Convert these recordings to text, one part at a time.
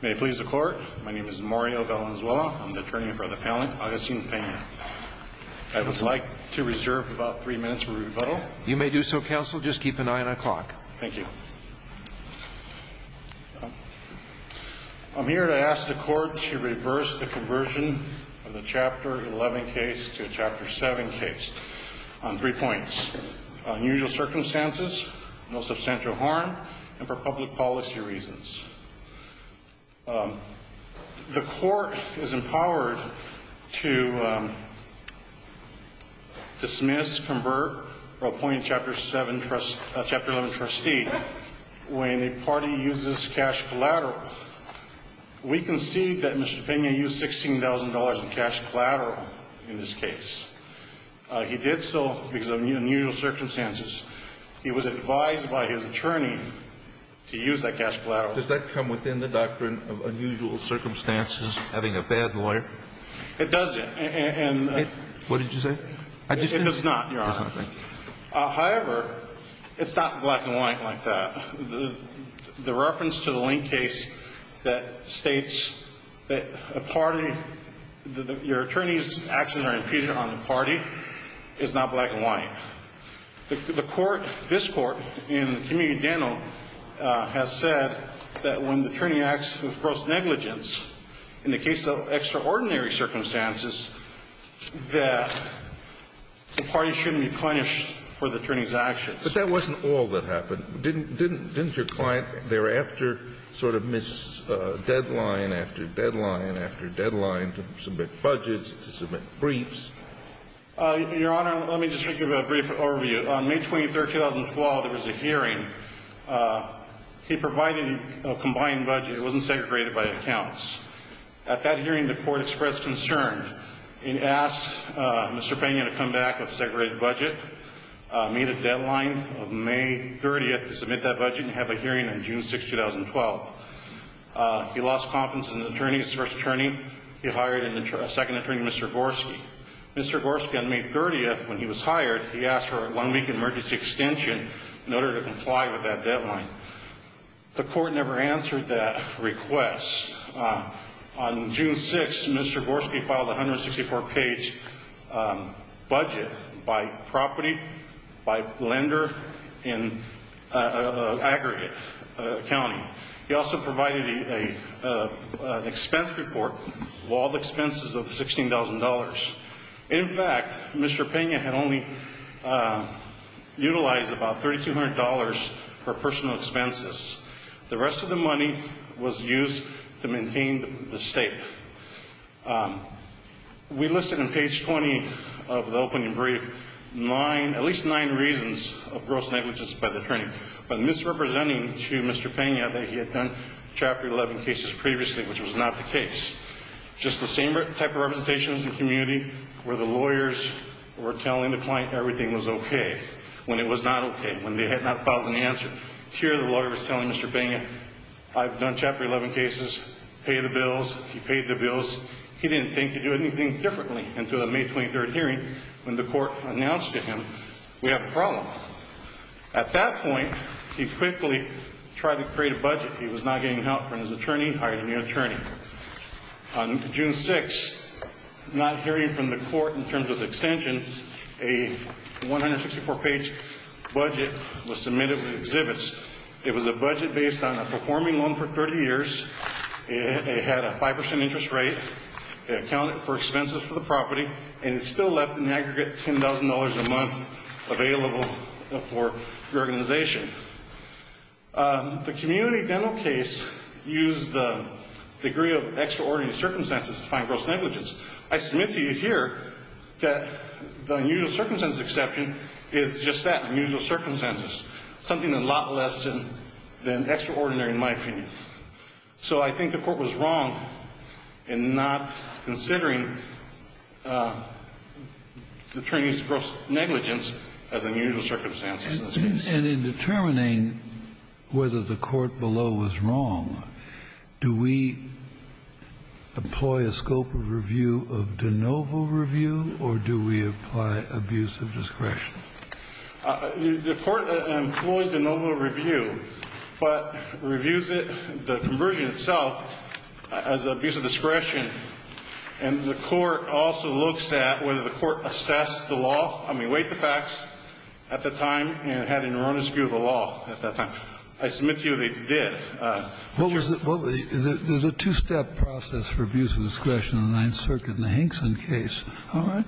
May it please the Court, my name is Mario Valenzuela, I'm the attorney in front of the panel, Augustine Pena. I would like to reserve about three minutes for rebuttal. You may do so, Counsel, just keep an eye on the clock. Thank you. I'm here to ask the Court to reverse the conversion of the Chapter 11 case to a Chapter 7 case on three points. Unusual circumstances, no substantial harm, and for public policy reasons. The Court is empowered to dismiss, convert, or appoint a Chapter 11 trustee when a party uses cash collateral. We concede that Mr. Pena used $16,000 in cash collateral in this case. He did so because of unusual circumstances. He was advised by his attorney to use that cash collateral. Does that come within the doctrine of unusual circumstances, having a bad lawyer? It doesn't. What did you say? It does not, Your Honor. However, it's not black and white like that. The reference to the Lane case that states that a party, your attorney's actions are impeded on the party is not black and white. The Court, this Court, in the community dental, has said that when the attorney acts with gross negligence in the case of extraordinary circumstances, that the party shouldn't be punished for the attorney's actions. But that wasn't all that happened. Didn't your client thereafter sort of miss deadline after deadline after deadline to submit budgets, to submit briefs? Your Honor, let me just give you a brief overview. On May 23, 2012, there was a hearing. He provided a combined budget. It wasn't segregated by accounts. At that hearing, the Court expressed concern and asked Mr. Pena to come back with a segregated budget, made a deadline of May 30 to submit that budget, and have a hearing on June 6, 2012. He lost confidence in the attorney, his first attorney. He hired a second attorney, Mr. Gorski. Mr. Gorski, on May 30, when he was hired, he asked for a one-week emergency extension in order to comply with that deadline. The Court never answered that request. On June 6, Mr. Gorski filed a 164-page budget by property, by lender in an aggregate county. He also provided an expense report of all expenses of $16,000. In fact, Mr. Pena had only utilized about $3,200 for personal expenses. The rest of the money was used to maintain the state. We listed on page 20 of the opening brief at least nine reasons of gross negligence by the attorney, but misrepresenting to Mr. Pena that he had done Chapter 11 cases previously, which was not the case. Just the same type of representations in the community where the lawyers were telling the client everything was okay, when it was not okay, when they had not followed an answer. Here the lawyer was telling Mr. Pena, I've done Chapter 11 cases, pay the bills. He paid the bills. He didn't think he'd do anything differently until the May 23 hearing when the Court announced to him, we have a problem. At that point, he quickly tried to create a budget. He was not getting help from his attorney, hired a new attorney. On June 6, not hearing from the Court in terms of the extension, a 164-page budget was submitted with exhibits. It was a budget based on a performing loan for 30 years. It had a 5% interest rate. It accounted for expenses for the property, and it still left an aggregate $10,000 a month available for the organization. The community dental case used the degree of extraordinary circumstances to find gross negligence. I submit to you here that the unusual circumstances exception is just that, unusual circumstances, something a lot less than extraordinary in my opinion. So I think the Court was wrong in not considering the attorney's gross negligence as unusual circumstances in this case. And in determining whether the Court below was wrong, do we employ a scope of review of de novo review, or do we apply abuse of discretion? The Court employs de novo review, but reviews it, the conversion itself, as abuse of discretion. And the Court also looks at whether the Court assessed the law, I mean, weighed the facts at the time and had an erroneous view of the law at that time. I submit to you they did. Kennedy. Well, there's a two-step process for abuse of discretion in the Ninth Circuit in the Hinkson case. All right?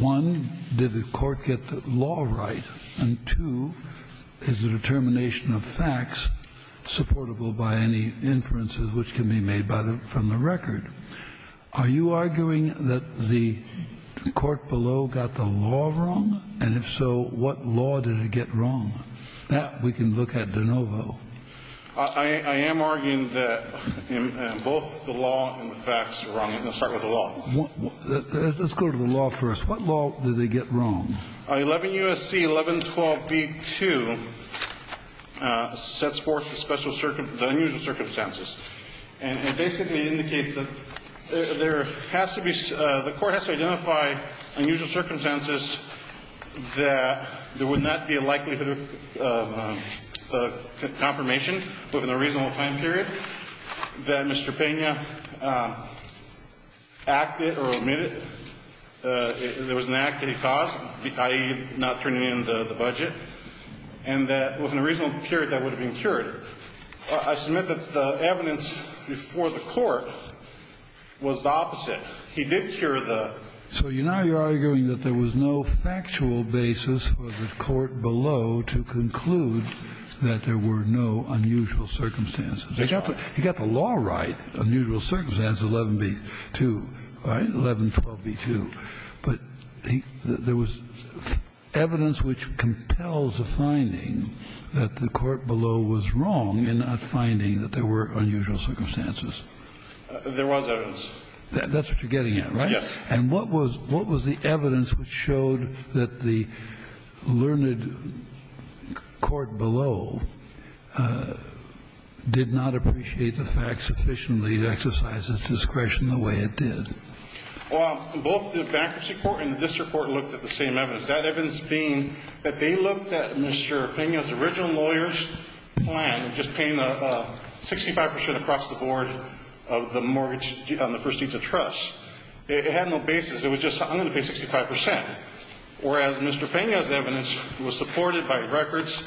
One, did the Court get the law right? And two, is the determination of facts supportable by any inferences which can be made by the record? Are you arguing that the court below got the law wrong? And if so, what law did it get wrong? That we can look at de novo. I am arguing that both the law and the facts are wrong. Let's start with the law. Let's go to the law first. What law did they get wrong? 11 U.S.C. 1112b2 sets forth the special unusual circumstances. And it basically indicates that there has to be the Court has to identify unusual circumstances that there would not be a likelihood of confirmation within a reasonable time period that Mr. Pena acted or omitted. There was an act that he caused, i.e., not turning in the budget, and that within a reasonable period that would have been cured. I submit that the evidence before the Court was the opposite. He did cure the ---- So now you're arguing that there was no factual basis for the court below to conclude that there were no unusual circumstances. Exactly. He got the law right. Unusual circumstances, 11b2. Right? 1112b2. But there was evidence which compels a finding that the court below was wrong in not finding that there were unusual circumstances. There was evidence. That's what you're getting at, right? Yes. And what was the evidence which showed that the learned court below did not appreciate the facts sufficiently to exercise its discretion the way it did? Well, both the bankruptcy court and the district court looked at the same evidence, that evidence being that they looked at Mr. Pena's original lawyer's plan of just paying 65 percent across the board of the mortgage on the first deeds of trust. It had no basis. It was just, I'm going to pay 65 percent, whereas Mr. Pena's evidence was supported by records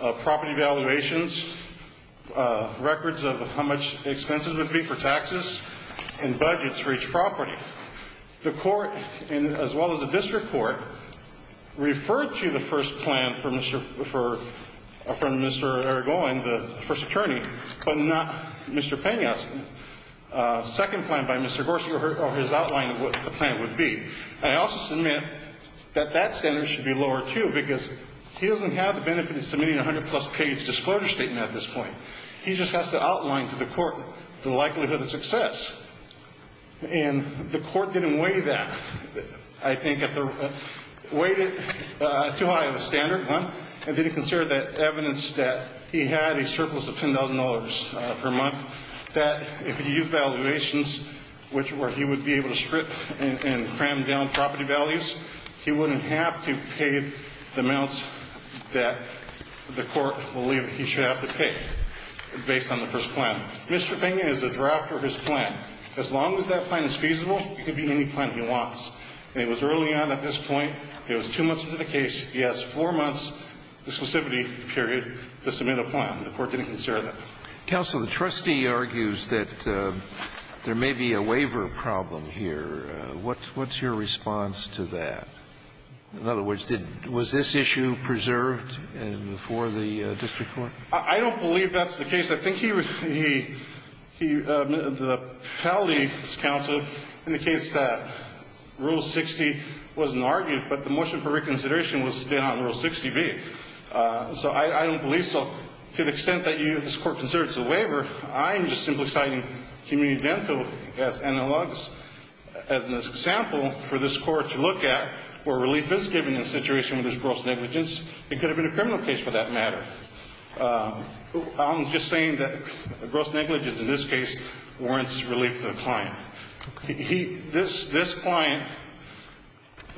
of property valuations, records of how much expenses would be for taxes and budgets for each property. The court, as well as the district court, referred to the first plan from Mr. Aragon, the first attorney, but not Mr. Pena's second plan by Mr. Gorsuch or his outline of what the plan would be. And I also submit that that standard should be lower, too, because he doesn't have the benefit of submitting a 100-plus page disclosure statement at this point. He just has to outline to the court the likelihood of success. And the court didn't weigh that. It weighed it too high of a standard, and didn't consider that evidence that he had a surplus of $10,000 per month, that if he used valuations where he would be able to strip and cram down property values, he wouldn't have to pay the amounts that the court believed he should have to pay. Based on the first plan. Mr. Pena has a draft of his plan. As long as that plan is feasible, it could be any plan he wants. And it was early on at this point. It was two months into the case. He has four months' exclusivity period to submit a plan. The court didn't consider that. Scalia. Counsel, the trustee argues that there may be a waiver problem here. What's your response to that? In other words, was this issue preserved before the district court? I don't believe that's the case. I think he, the appellate counsel indicates that Rule 60 wasn't argued, but the motion for reconsideration was still on Rule 60B. So I don't believe so. To the extent that this Court considers it's a waiver, I'm just simply citing community dental as analogous as an example for this Court to look at where relief is given in a situation where there's gross negligence. It could have been a criminal case for that matter. I'm just saying that gross negligence in this case warrants relief to the client. This client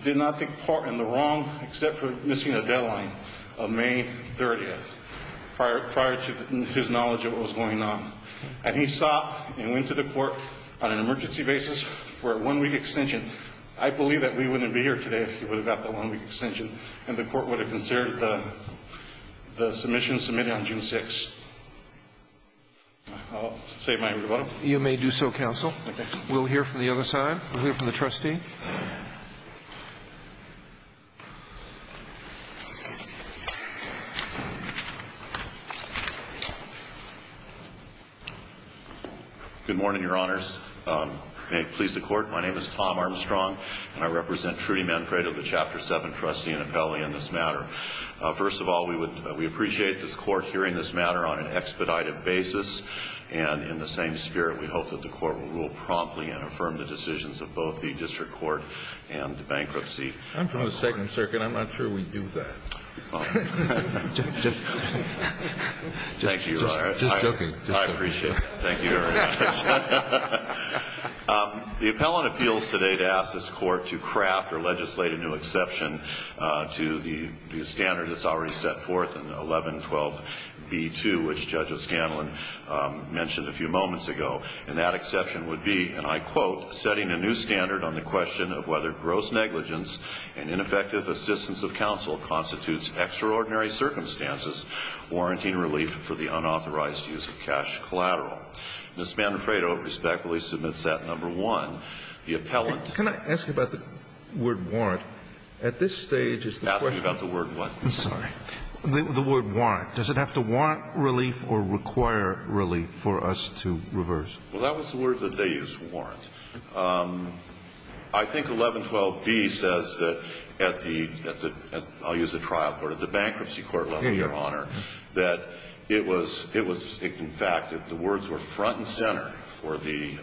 did not take part in the wrong except for missing a deadline of May 30th prior to his knowledge of what was going on. And he stopped and went to the court on an emergency basis for a one-week extension. I believe that we wouldn't be here today if he would have got that one-week extension. And the Court would have considered the submission submitted on June 6th. I'll say my rebuttal. You may do so, counsel. Okay. We'll hear from the other side. We'll hear from the trustee. Good morning, Your Honors. May it please the Court, my name is Tom Armstrong and I represent Trudy Manfredo, the Chapter 7 trustee and appellee on this matter. First of all, we appreciate this Court hearing this matter on an expedited basis. And in the same spirit, we hope that the Court will rule promptly and affirm the decisions of both the district court and the bankruptcy. I'm from the Second Circuit. I'm not sure we do that. Just joking. I appreciate it. Thank you, Your Honors. The appellant appeals today to ask this Court to craft or legislate a new exception to the standard that's already set forth in 1112B2, which Judge O'Scanlan mentioned a few moments ago. And that exception would be, and I quote, setting a new standard on the question of whether gross negligence and ineffective assistance of counsel constitutes extraordinary circumstances warranting relief for the unauthorized use of cash collateral. Ms. Manfredo respectfully submits that. Number one, the appellant. Can I ask you about the word warrant? At this stage is the question. Ask me about the word what? I'm sorry. The word warrant. Does it have to warrant relief or require relief for us to reverse? Well, that was the word that they used, warrant. I think 1112B says that at the, I'll use the trial court, at the bankruptcy court level, Your Honor, that it was in fact that the words were front and center for the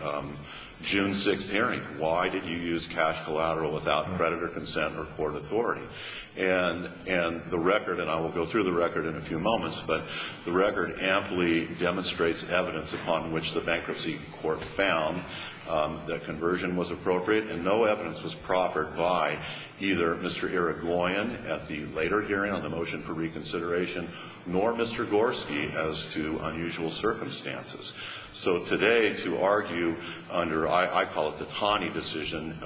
June 6th hearing. Why did you use cash collateral without creditor consent or court authority? And the record, and I will go through the record in a few moments, but the record amply demonstrates evidence upon which the bankruptcy court found that conversion was appropriate, and no evidence was proffered by either Mr. Eric Loyan at the later hearing on the motion for reconsideration nor Mr. Gorski as to unusual circumstances. So today to argue under, I call it the Taney decision,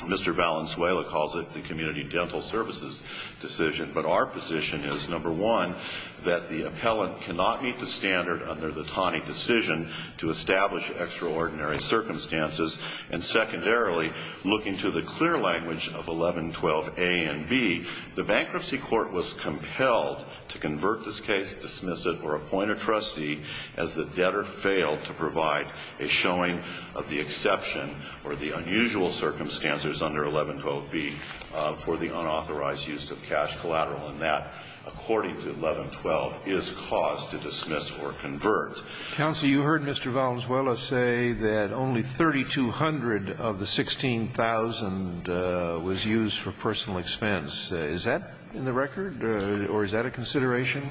Mr. Valenzuela calls it the community dental services decision, but our position is, number one, that the appellant cannot meet the standard under the Taney decision to establish extraordinary circumstances, and secondarily, looking to the clear language of 1112A and B, the bankruptcy court was compelled to convert this case, dismiss it, or appoint a trustee as the debtor failed to provide a showing of the exception or the unusual circumstances under 1112B for the unauthorized use of cash collateral, and that, according to 1112, is cause to dismiss or convert. Counsel, you heard Mr. Valenzuela say that only 3,200 of the 16,000 was used for personal expense. Is that in the record, or is that a consideration?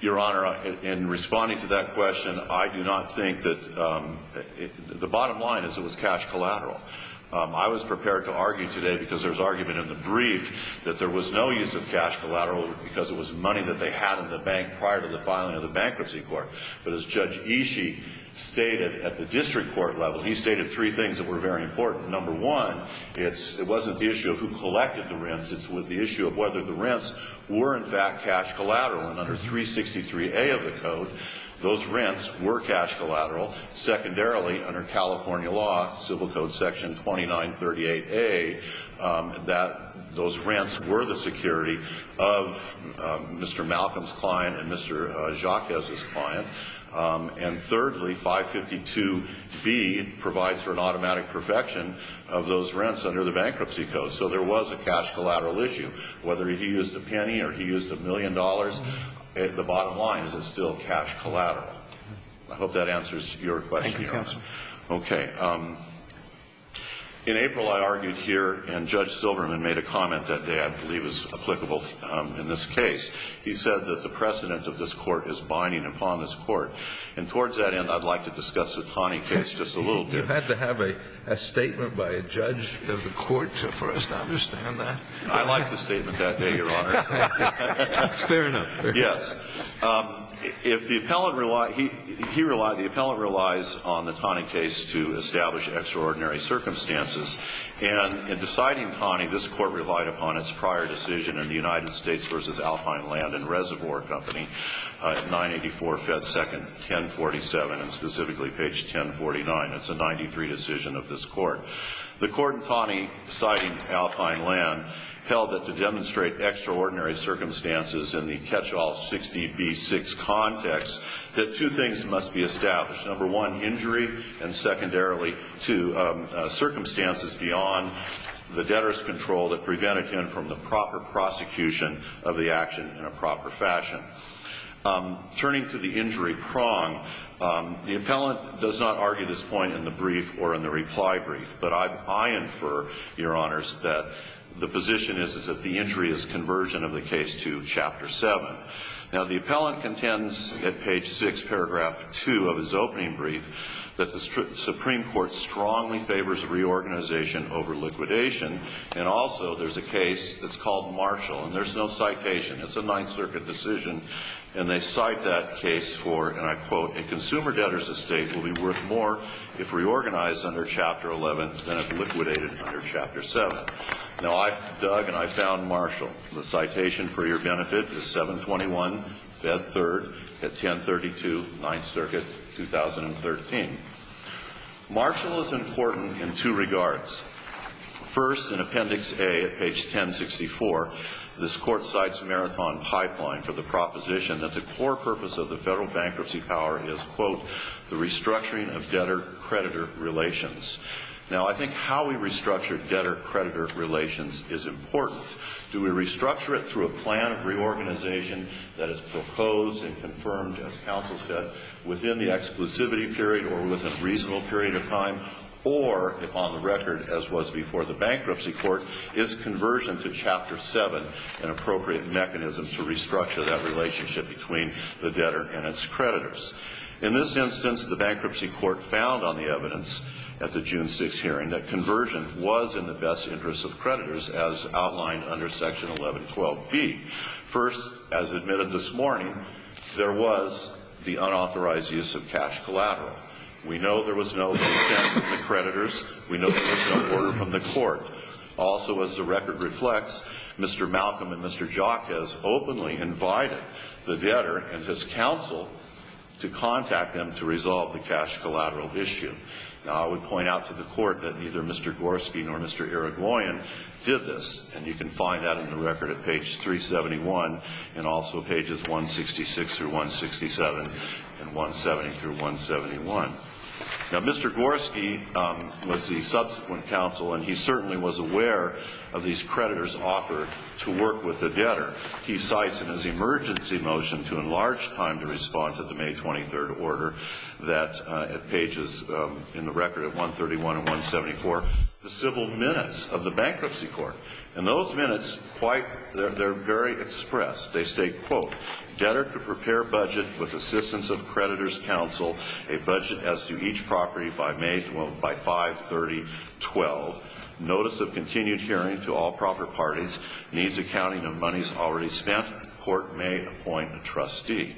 Your Honor, in responding to that question, I do not think that the bottom line is it was cash collateral. I was prepared to argue today, because there was argument in the brief, that there was no use of cash collateral because it was money that they had in the bank prior to the filing of the bankruptcy court. But as Judge Ishii stated at the district court level, he stated three things that were very important. Number one, it wasn't the issue of who collected the rents. It was the issue of whether the rents were, in fact, cash collateral. And under 363A of the code, those rents were cash collateral. Secondarily, under California law, Civil Code Section 2938A, those rents were the security of Mr. Malcolm's client and Mr. Jacquez's client. And thirdly, 552B provides for an automatic perfection of those rents under the bankruptcy code. So there was a cash collateral issue. Whether he used a penny or he used a million dollars, the bottom line is it's still cash collateral. I hope that answers your question, Your Honor. Thank you, counsel. Okay. In April, I argued here, and Judge Silverman made a comment that day, I believe is applicable in this case. He said that the precedent of this court is binding upon this court. And towards that end, I'd like to discuss the Taney case just a little bit. You've had to have a statement by a judge of the court for us to understand that. I liked the statement that day, Your Honor. Fair enough. Yes. If the appellant relied he relied the appellant relies on the Taney case to establish extraordinary circumstances. And in deciding Taney, this court relied upon its prior decision in the United States Alpine Land and Reservoir Company, 984 Fed Second 1047, and specifically page 1049. It's a 93 decision of this court. The court in Taney, citing Alpine Land, held that to demonstrate extraordinary circumstances in the catch-all 60B6 context, that two things must be established. Number one, injury, and secondarily, two, circumstances beyond the debtor's control that prevented him from the proper prosecution of the action in a proper fashion. Turning to the injury prong, the appellant does not argue this point in the brief or in the reply brief, but I infer, Your Honors, that the position is that the injury is conversion of the case to Chapter 7. Now, the appellant contends at page 6, paragraph 2 of his opening brief, that the Supreme Court strongly favors reorganization over liquidation, and also there's a case that's called Marshall, and there's no citation. It's a Ninth Circuit decision, and they cite that case for, and I quote, a consumer debtor's estate will be worth more if reorganized under Chapter 11 than if liquidated under Chapter 7. Now, Doug and I found Marshall. The citation for your benefit is 721 Fed Third at 1032, Ninth Circuit, 2013. Marshall is important in two regards. First, in Appendix A at page 1064, this court cites Marathon Pipeline for the proposition that the core purpose of the federal bankruptcy power is, quote, the restructuring of debtor-creditor relations. Now, I think how we restructure debtor-creditor relations is important. Do we restructure it through a plan of reorganization that is proposed and confirmed, as counsel said, within the exclusivity period or within a reasonable period of time? Or, if on the record as was before the bankruptcy court, is conversion to Chapter 7 an appropriate mechanism to restructure that relationship between the debtor and its creditors? In this instance, the bankruptcy court found on the evidence at the June 6 hearing that conversion was in the best interest of creditors, as outlined under Section 1112B. First, as admitted this morning, there was the unauthorized use of cash collateral. We know there was no consent from the creditors. We know there was no order from the court. Also, as the record reflects, Mr. Malcolm and Mr. Jacquez openly invited the debtor and his counsel to contact them to resolve the cash collateral issue. Now, I would point out to the court that neither Mr. Gorski nor Mr. Irigoyen did this, and you can find that in the record at page 371 and also pages 166-167 and 170-171. Now, Mr. Gorski was the subsequent counsel, and he certainly was aware of these creditors' offer to work with the debtor. He cites in his emergency motion to enlarge time to respond to the May 23rd order at pages, in the record, at 131 and 174, the civil minutes of the Bankruptcy Court. And those minutes, they're very expressed. They state, quote, debtor to prepare budget with assistance of creditors' counsel, a budget as to each property by May 5, 3012, notice of continued hearing to all proper parties, needs accounting of monies already spent, court may appoint a trustee.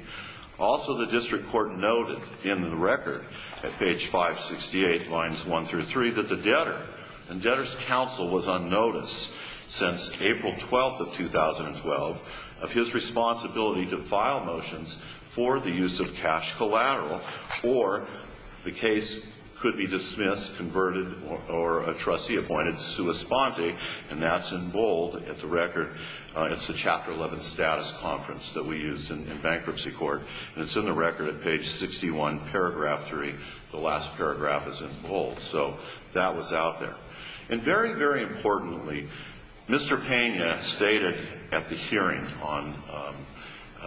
Also, the district court noted in the record at page 568, lines one through three, that the debtor and debtor's counsel was unnoticed since April 12th of 2012 of his responsibility to file motions for the use of cash collateral or the case could be dismissed, converted, or a trustee appointed sua sponte, and that's in bold at the record. It's the chapter 11 status conference that we use in Bankruptcy Court, and it's in the record at page 61, paragraph three. The last paragraph is in bold. So that was out there. And very, very importantly, Mr. Pena stated at the hearing on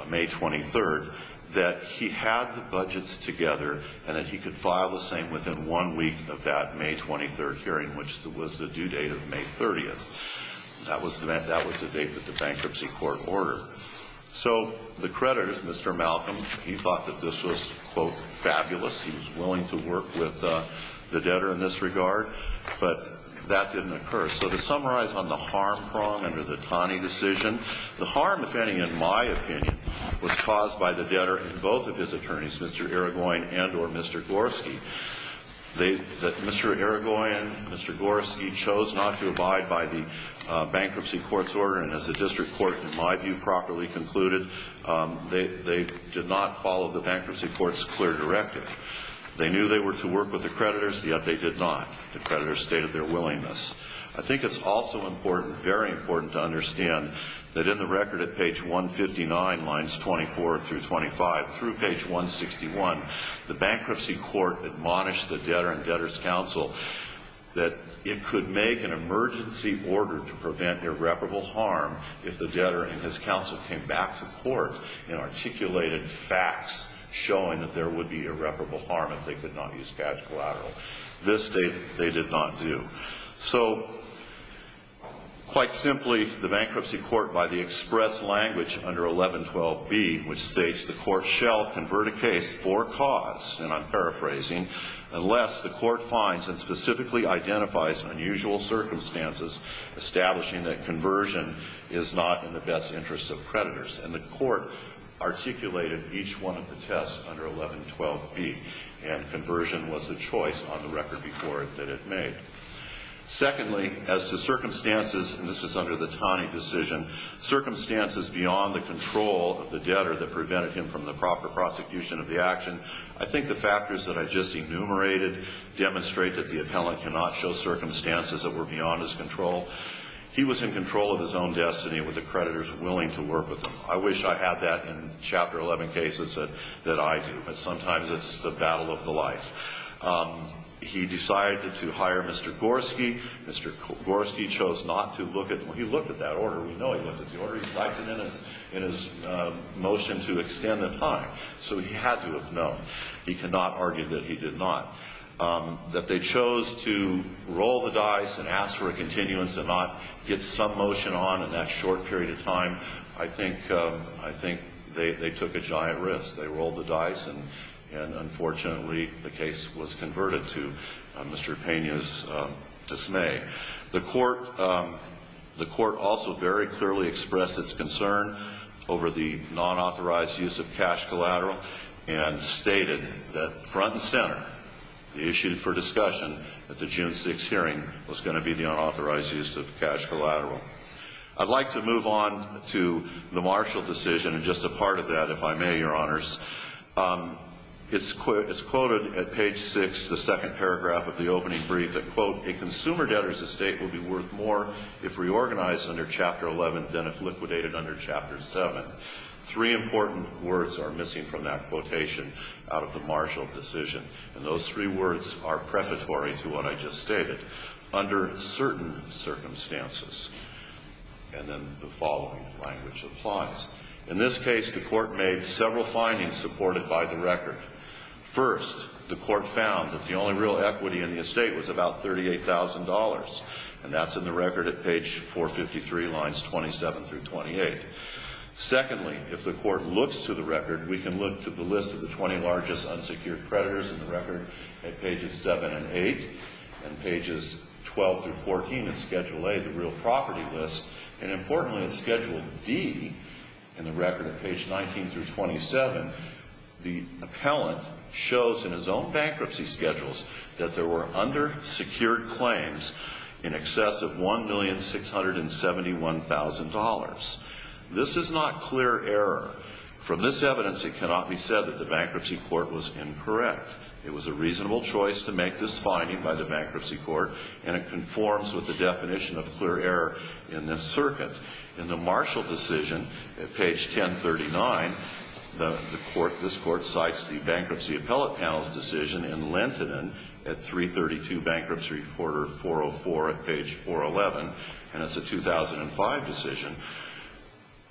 May 23rd that he had the budgets together and that he could file the same within one week of that May 23rd hearing, which was the due date of May 30th. That was the date that the Bankruptcy Court ordered. So the credit is Mr. Malcolm. He thought that this was, quote, fabulous. He was willing to work with the debtor in this regard, but that didn't occur. So to summarize on the harm prong under the Taney decision, the harm, if any, in my opinion, was caused by the debtor and both of his attorneys, Mr. Irigoyen and or Mr. Gorski. Mr. Irigoyen, Mr. Gorski chose not to abide by the Bankruptcy Court's order, and as the district court, in my view, properly concluded, they did not follow the Bankruptcy Court's clear directive. They knew they were to work with the creditors, yet they did not. The creditors stated their willingness. I think it's also important, very important, to understand that in the record at page 159, lines 24 through 25, through page 161, the Bankruptcy Court admonished the debtor and debtor's counsel that it could make an emergency order to prevent irreparable harm if the debtor and his counsel came back to court and articulated facts showing that there would be irreparable harm if they could not use cash collateral. This they did not do. So quite simply, the Bankruptcy Court, by the express language under 1112B, which states the court shall convert a case for cause, and I'm paraphrasing, unless the court finds and specifically identifies unusual circumstances establishing that conversion is not in the best interest of creditors. And the court articulated each one of the tests under 1112B, and conversion was the choice on the record before it that it made. Secondly, as to circumstances, and this is under the Taney decision, circumstances beyond the control of the debtor that prevented him from the proper prosecution of the action, I think the factors that I just enumerated demonstrate that the appellant cannot show circumstances that were beyond his control. He was in control of his own destiny with the creditors willing to work with him. I wish I had that in Chapter 11 cases that I do, but sometimes it's the battle of the life. He decided to hire Mr. Gorski. Mr. Gorski chose not to look at them. We know he looked at them. He already cited them in his motion to extend the time. So he had to have known. He cannot argue that he did not. That they chose to roll the dice and ask for a continuance and not get some motion on in that short period of time, I think they took a giant risk. They rolled the dice, and unfortunately, the case was converted to Mr. Pena's dismay. The court also very clearly expressed its concern over the non-authorized use of cash collateral and stated that front and center, the issue for discussion at the June 6th hearing was going to be the unauthorized use of cash collateral. I'd like to move on to the Marshall decision and just a part of that, if I may, Your Honors. It's quoted at page 6, the second paragraph of the opening brief, that, quote, a consumer debtor's estate will be worth more if reorganized under Chapter 11 than if liquidated under Chapter 7. Three important words are missing from that quotation out of the Marshall decision, and those three words are prefatory to what I just stated, under certain circumstances. And then the following language applies. In this case, the court made several findings supported by the record. First, the court found that the only real equity in the estate was about $38,000, and that's in the record at page 453, lines 27 through 28. Secondly, if the court looks to the record, we can look to the list of the 20 largest unsecured creditors in the record at pages 7 and 8, and pages 12 through 14 at Schedule A, the real property list, and importantly at Schedule D in the record at page 19 through 27, the appellant shows in his own bankruptcy schedules that there were undersecured claims in excess of $1,671,000. This is not clear error. From this evidence, it cannot be said that the bankruptcy court was incorrect. It was a reasonable choice to make this finding by the bankruptcy court, and it conforms with the definition of clear error in this circuit. In the Marshall decision at page 1039, this court cites the bankruptcy appellate panel's decision in Lentinen at 332 Bankruptcy Reporter 404 at page 411, and it's a 2005 decision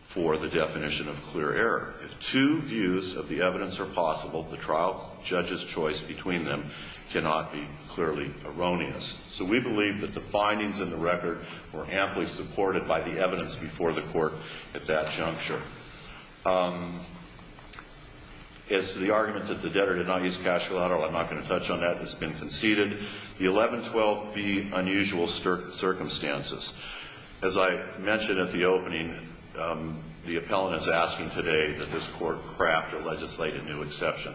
for the definition of clear error. If two views of the evidence are possible, the trial judge's choice between them cannot be clearly erroneous. So we believe that the findings in the record were amply supported by the evidence before the court at that juncture. As to the argument that the debtor did not use cash for the other one, I'm not going to touch on that. It's been conceded. The 1112B, unusual circumstances. As I mentioned at the opening, the appellant is asking today that this court craft or legislate a new exception.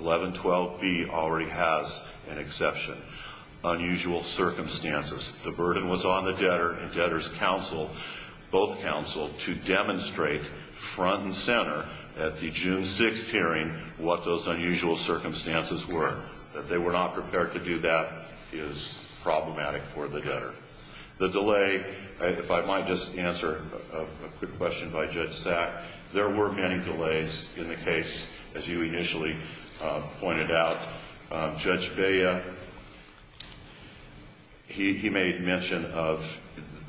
1112B already has an exception. Unusual circumstances. The burden was on the debtor and debtor's counsel, both counsel, to demonstrate front and center at the June 6th hearing what those unusual circumstances were. That they were not prepared to do that is problematic for the debtor. The delay, if I might just answer a quick question by Judge Sack, there were many delays in the case, as you initially pointed out. Judge Vea, he made mention of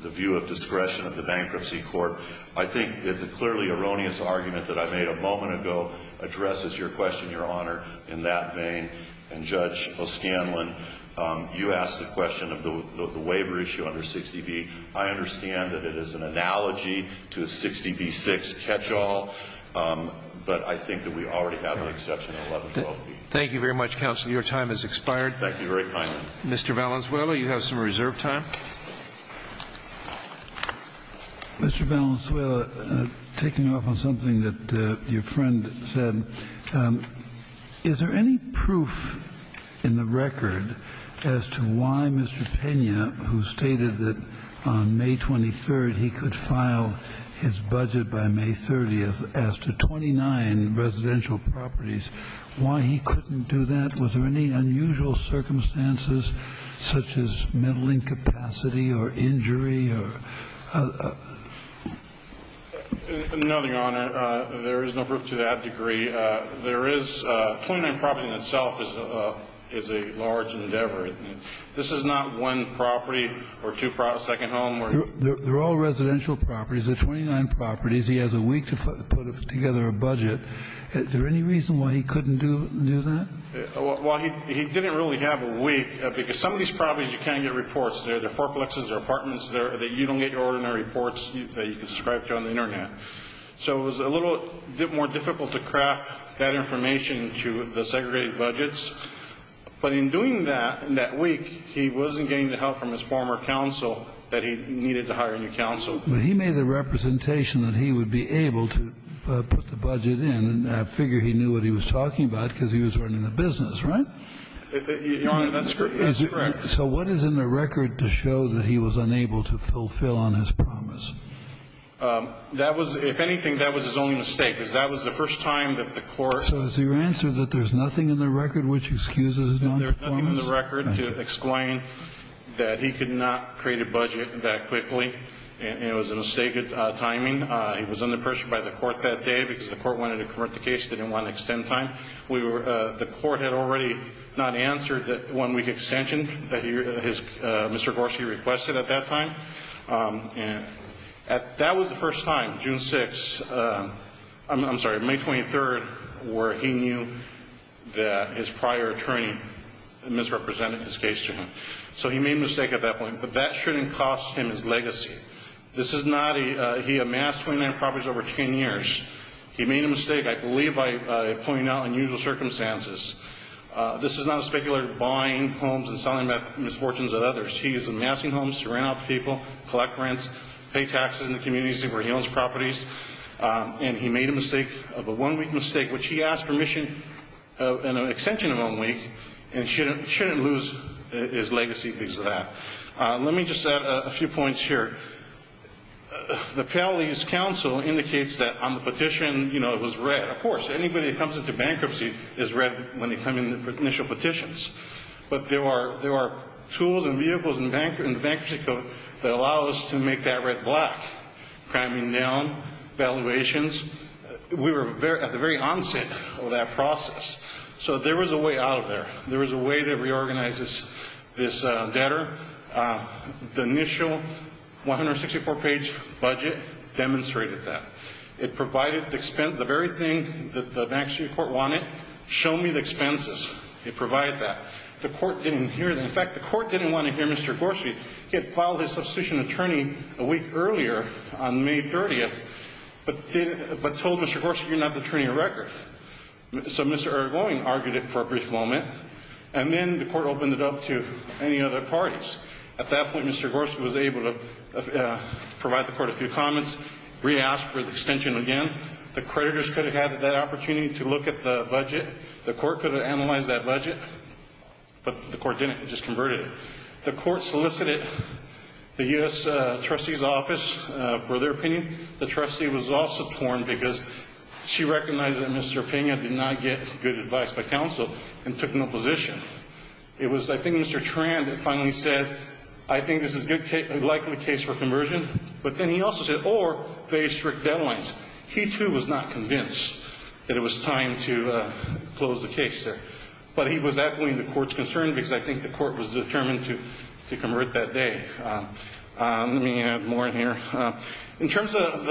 the view of discretion of the bankruptcy court. I think that the clearly erroneous argument that I made a moment ago addresses your question, Your Honor, in that vein. And Judge O'Scanlan, you asked the question of the waiver issue under 60B. I understand that it is an analogy to a 60B6 catch-all, but I think that we already have an exception in 1112B. Thank you very much, counsel. Your time has expired. Thank you very much. Mr. Valenzuela, you have some reserve time. Mr. Valenzuela, taking off on something that your friend said, is there any proof in the record as to why Mr. Pena, who stated that on May 23rd he could file his budget by May 30th, as to 29 residential properties, why he couldn't do that? Was there any unusual circumstances, such as mental incapacity or injury? No, Your Honor, there is no proof to that degree. There is 29 properties in itself is a large endeavor. This is not one property or two second homes. They're all residential properties. They're 29 properties. He has a week to put together a budget. Is there any reason why he couldn't do that? Well, he didn't really have a week, because some of these properties, you can't get reports there. There are fourplexes, there are apartments there that you don't get your ordinary reports that you can subscribe to on the Internet. So it was a little more difficult to craft that information to the segregated budgets, but in doing that, in that week, he wasn't getting the help from his former counsel that he needed to hire a new counsel. But he made the representation that he would be able to put the budget in, and I figure he knew what he was talking about, because he was running a business, right? Your Honor, that's correct. So what is in the record to show that he was unable to fulfill on his promise? That was, if anything, that was his only mistake, because that was the first time that the court. So is your answer that there's nothing in the record which excuses his noncompliance? There's nothing in the record to explain that he could not create a budget that quickly, and it was a mistake of timing. He was under pressure by the court that day, because the court wanted to correct the case, didn't want to extend time. The court had already not answered the one-week extension that Mr. Gorski requested at that time. And that was the first time, June 6th, I'm sorry, May 23rd, where he knew that his prior attorney misrepresented his case to him. So he made a mistake at that point. But that shouldn't cost him his legacy. This is not a he amassed 29 properties over 10 years. He made a mistake, I believe, by pointing out unusual circumstances. This is not a speculator buying homes and selling misfortunes at others. He is amassing homes to rent out to people, collect rents, pay taxes in the communities where he owns properties. And he made a mistake of a one-week mistake, which he asked permission in an extension of one week, and shouldn't lose his legacy because of that. Let me just add a few points here. The Palis Council indicates that on the petition, you know, it was red. Of course, anybody that comes into bankruptcy is red when they come in for initial petitions. But there are tools and vehicles in the bankruptcy code that allow us to make that red black, priming down, valuations. We were at the very onset of that process. So there was a way out of there. There was a way that reorganizes this debtor. The initial 164-page budget demonstrated that. It provided the expense, the very thing that the bankruptcy court wanted, show me the expenses. It provided that. The court didn't hear that. In fact, the court didn't want to hear Mr. Gorsuch. He had filed his substitution attorney a week earlier on May 30th, but told Mr. Gorsuch, you're not the attorney of record. So Mr. Erdogan argued it for a brief moment, and then the court opened it up to any other parties. At that point, Mr. Gorsuch was able to provide the court a few comments, re-asked for the extension again. The creditors could have had that opportunity to look at the budget. The court could have analyzed that budget, but the court didn't. It just converted it. The court solicited the U.S. trustee's office for their opinion. The trustee was also torn because she recognized that Mr. Pena did not get good advice by counsel and took no position. It was, I think, Mr. Tran that finally said, I think this is likely a case for conversion. But then he also said, or very strict deadlines. He, too, was not convinced that it was time to close the case there. But he was echoing the court's concern because I think the court was determined to convert that day. Let me add more in here. In terms of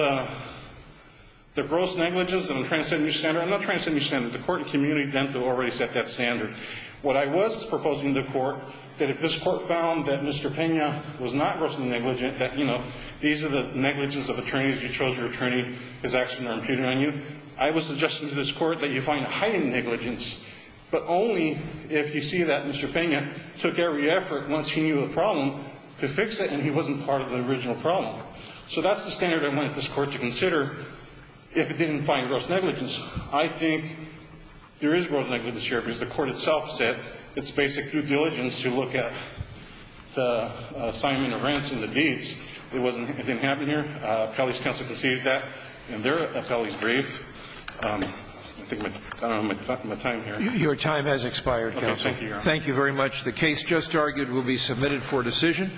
the gross negligence, and I'm trying to set a new standard. I'm not trying to set a new standard. The court in community dental already set that standard. What I was proposing to the court, that if this court found that Mr. Pena was not grossly negligent, that, you know, these are the negligences of attorneys, you chose your attorney, his actions are imputed on you. I was suggesting to this court that you find heightened negligence, but only if you see that Mr. Pena took every effort, once he knew the problem, to fix it and he wasn't part of the original problem. So that's the standard I wanted this court to consider if it didn't find gross negligence. I think there is gross negligence here because the court itself said it's basic due diligence to look at the assignment of rents and the deeds. It wasn't. It didn't happen here. Pelley's counsel conceded that, and they're at Pelley's grave. I think my time here. Your time has expired, counsel. Thank you, Your Honor. Thank you very much. The case just argued will be submitted for decision.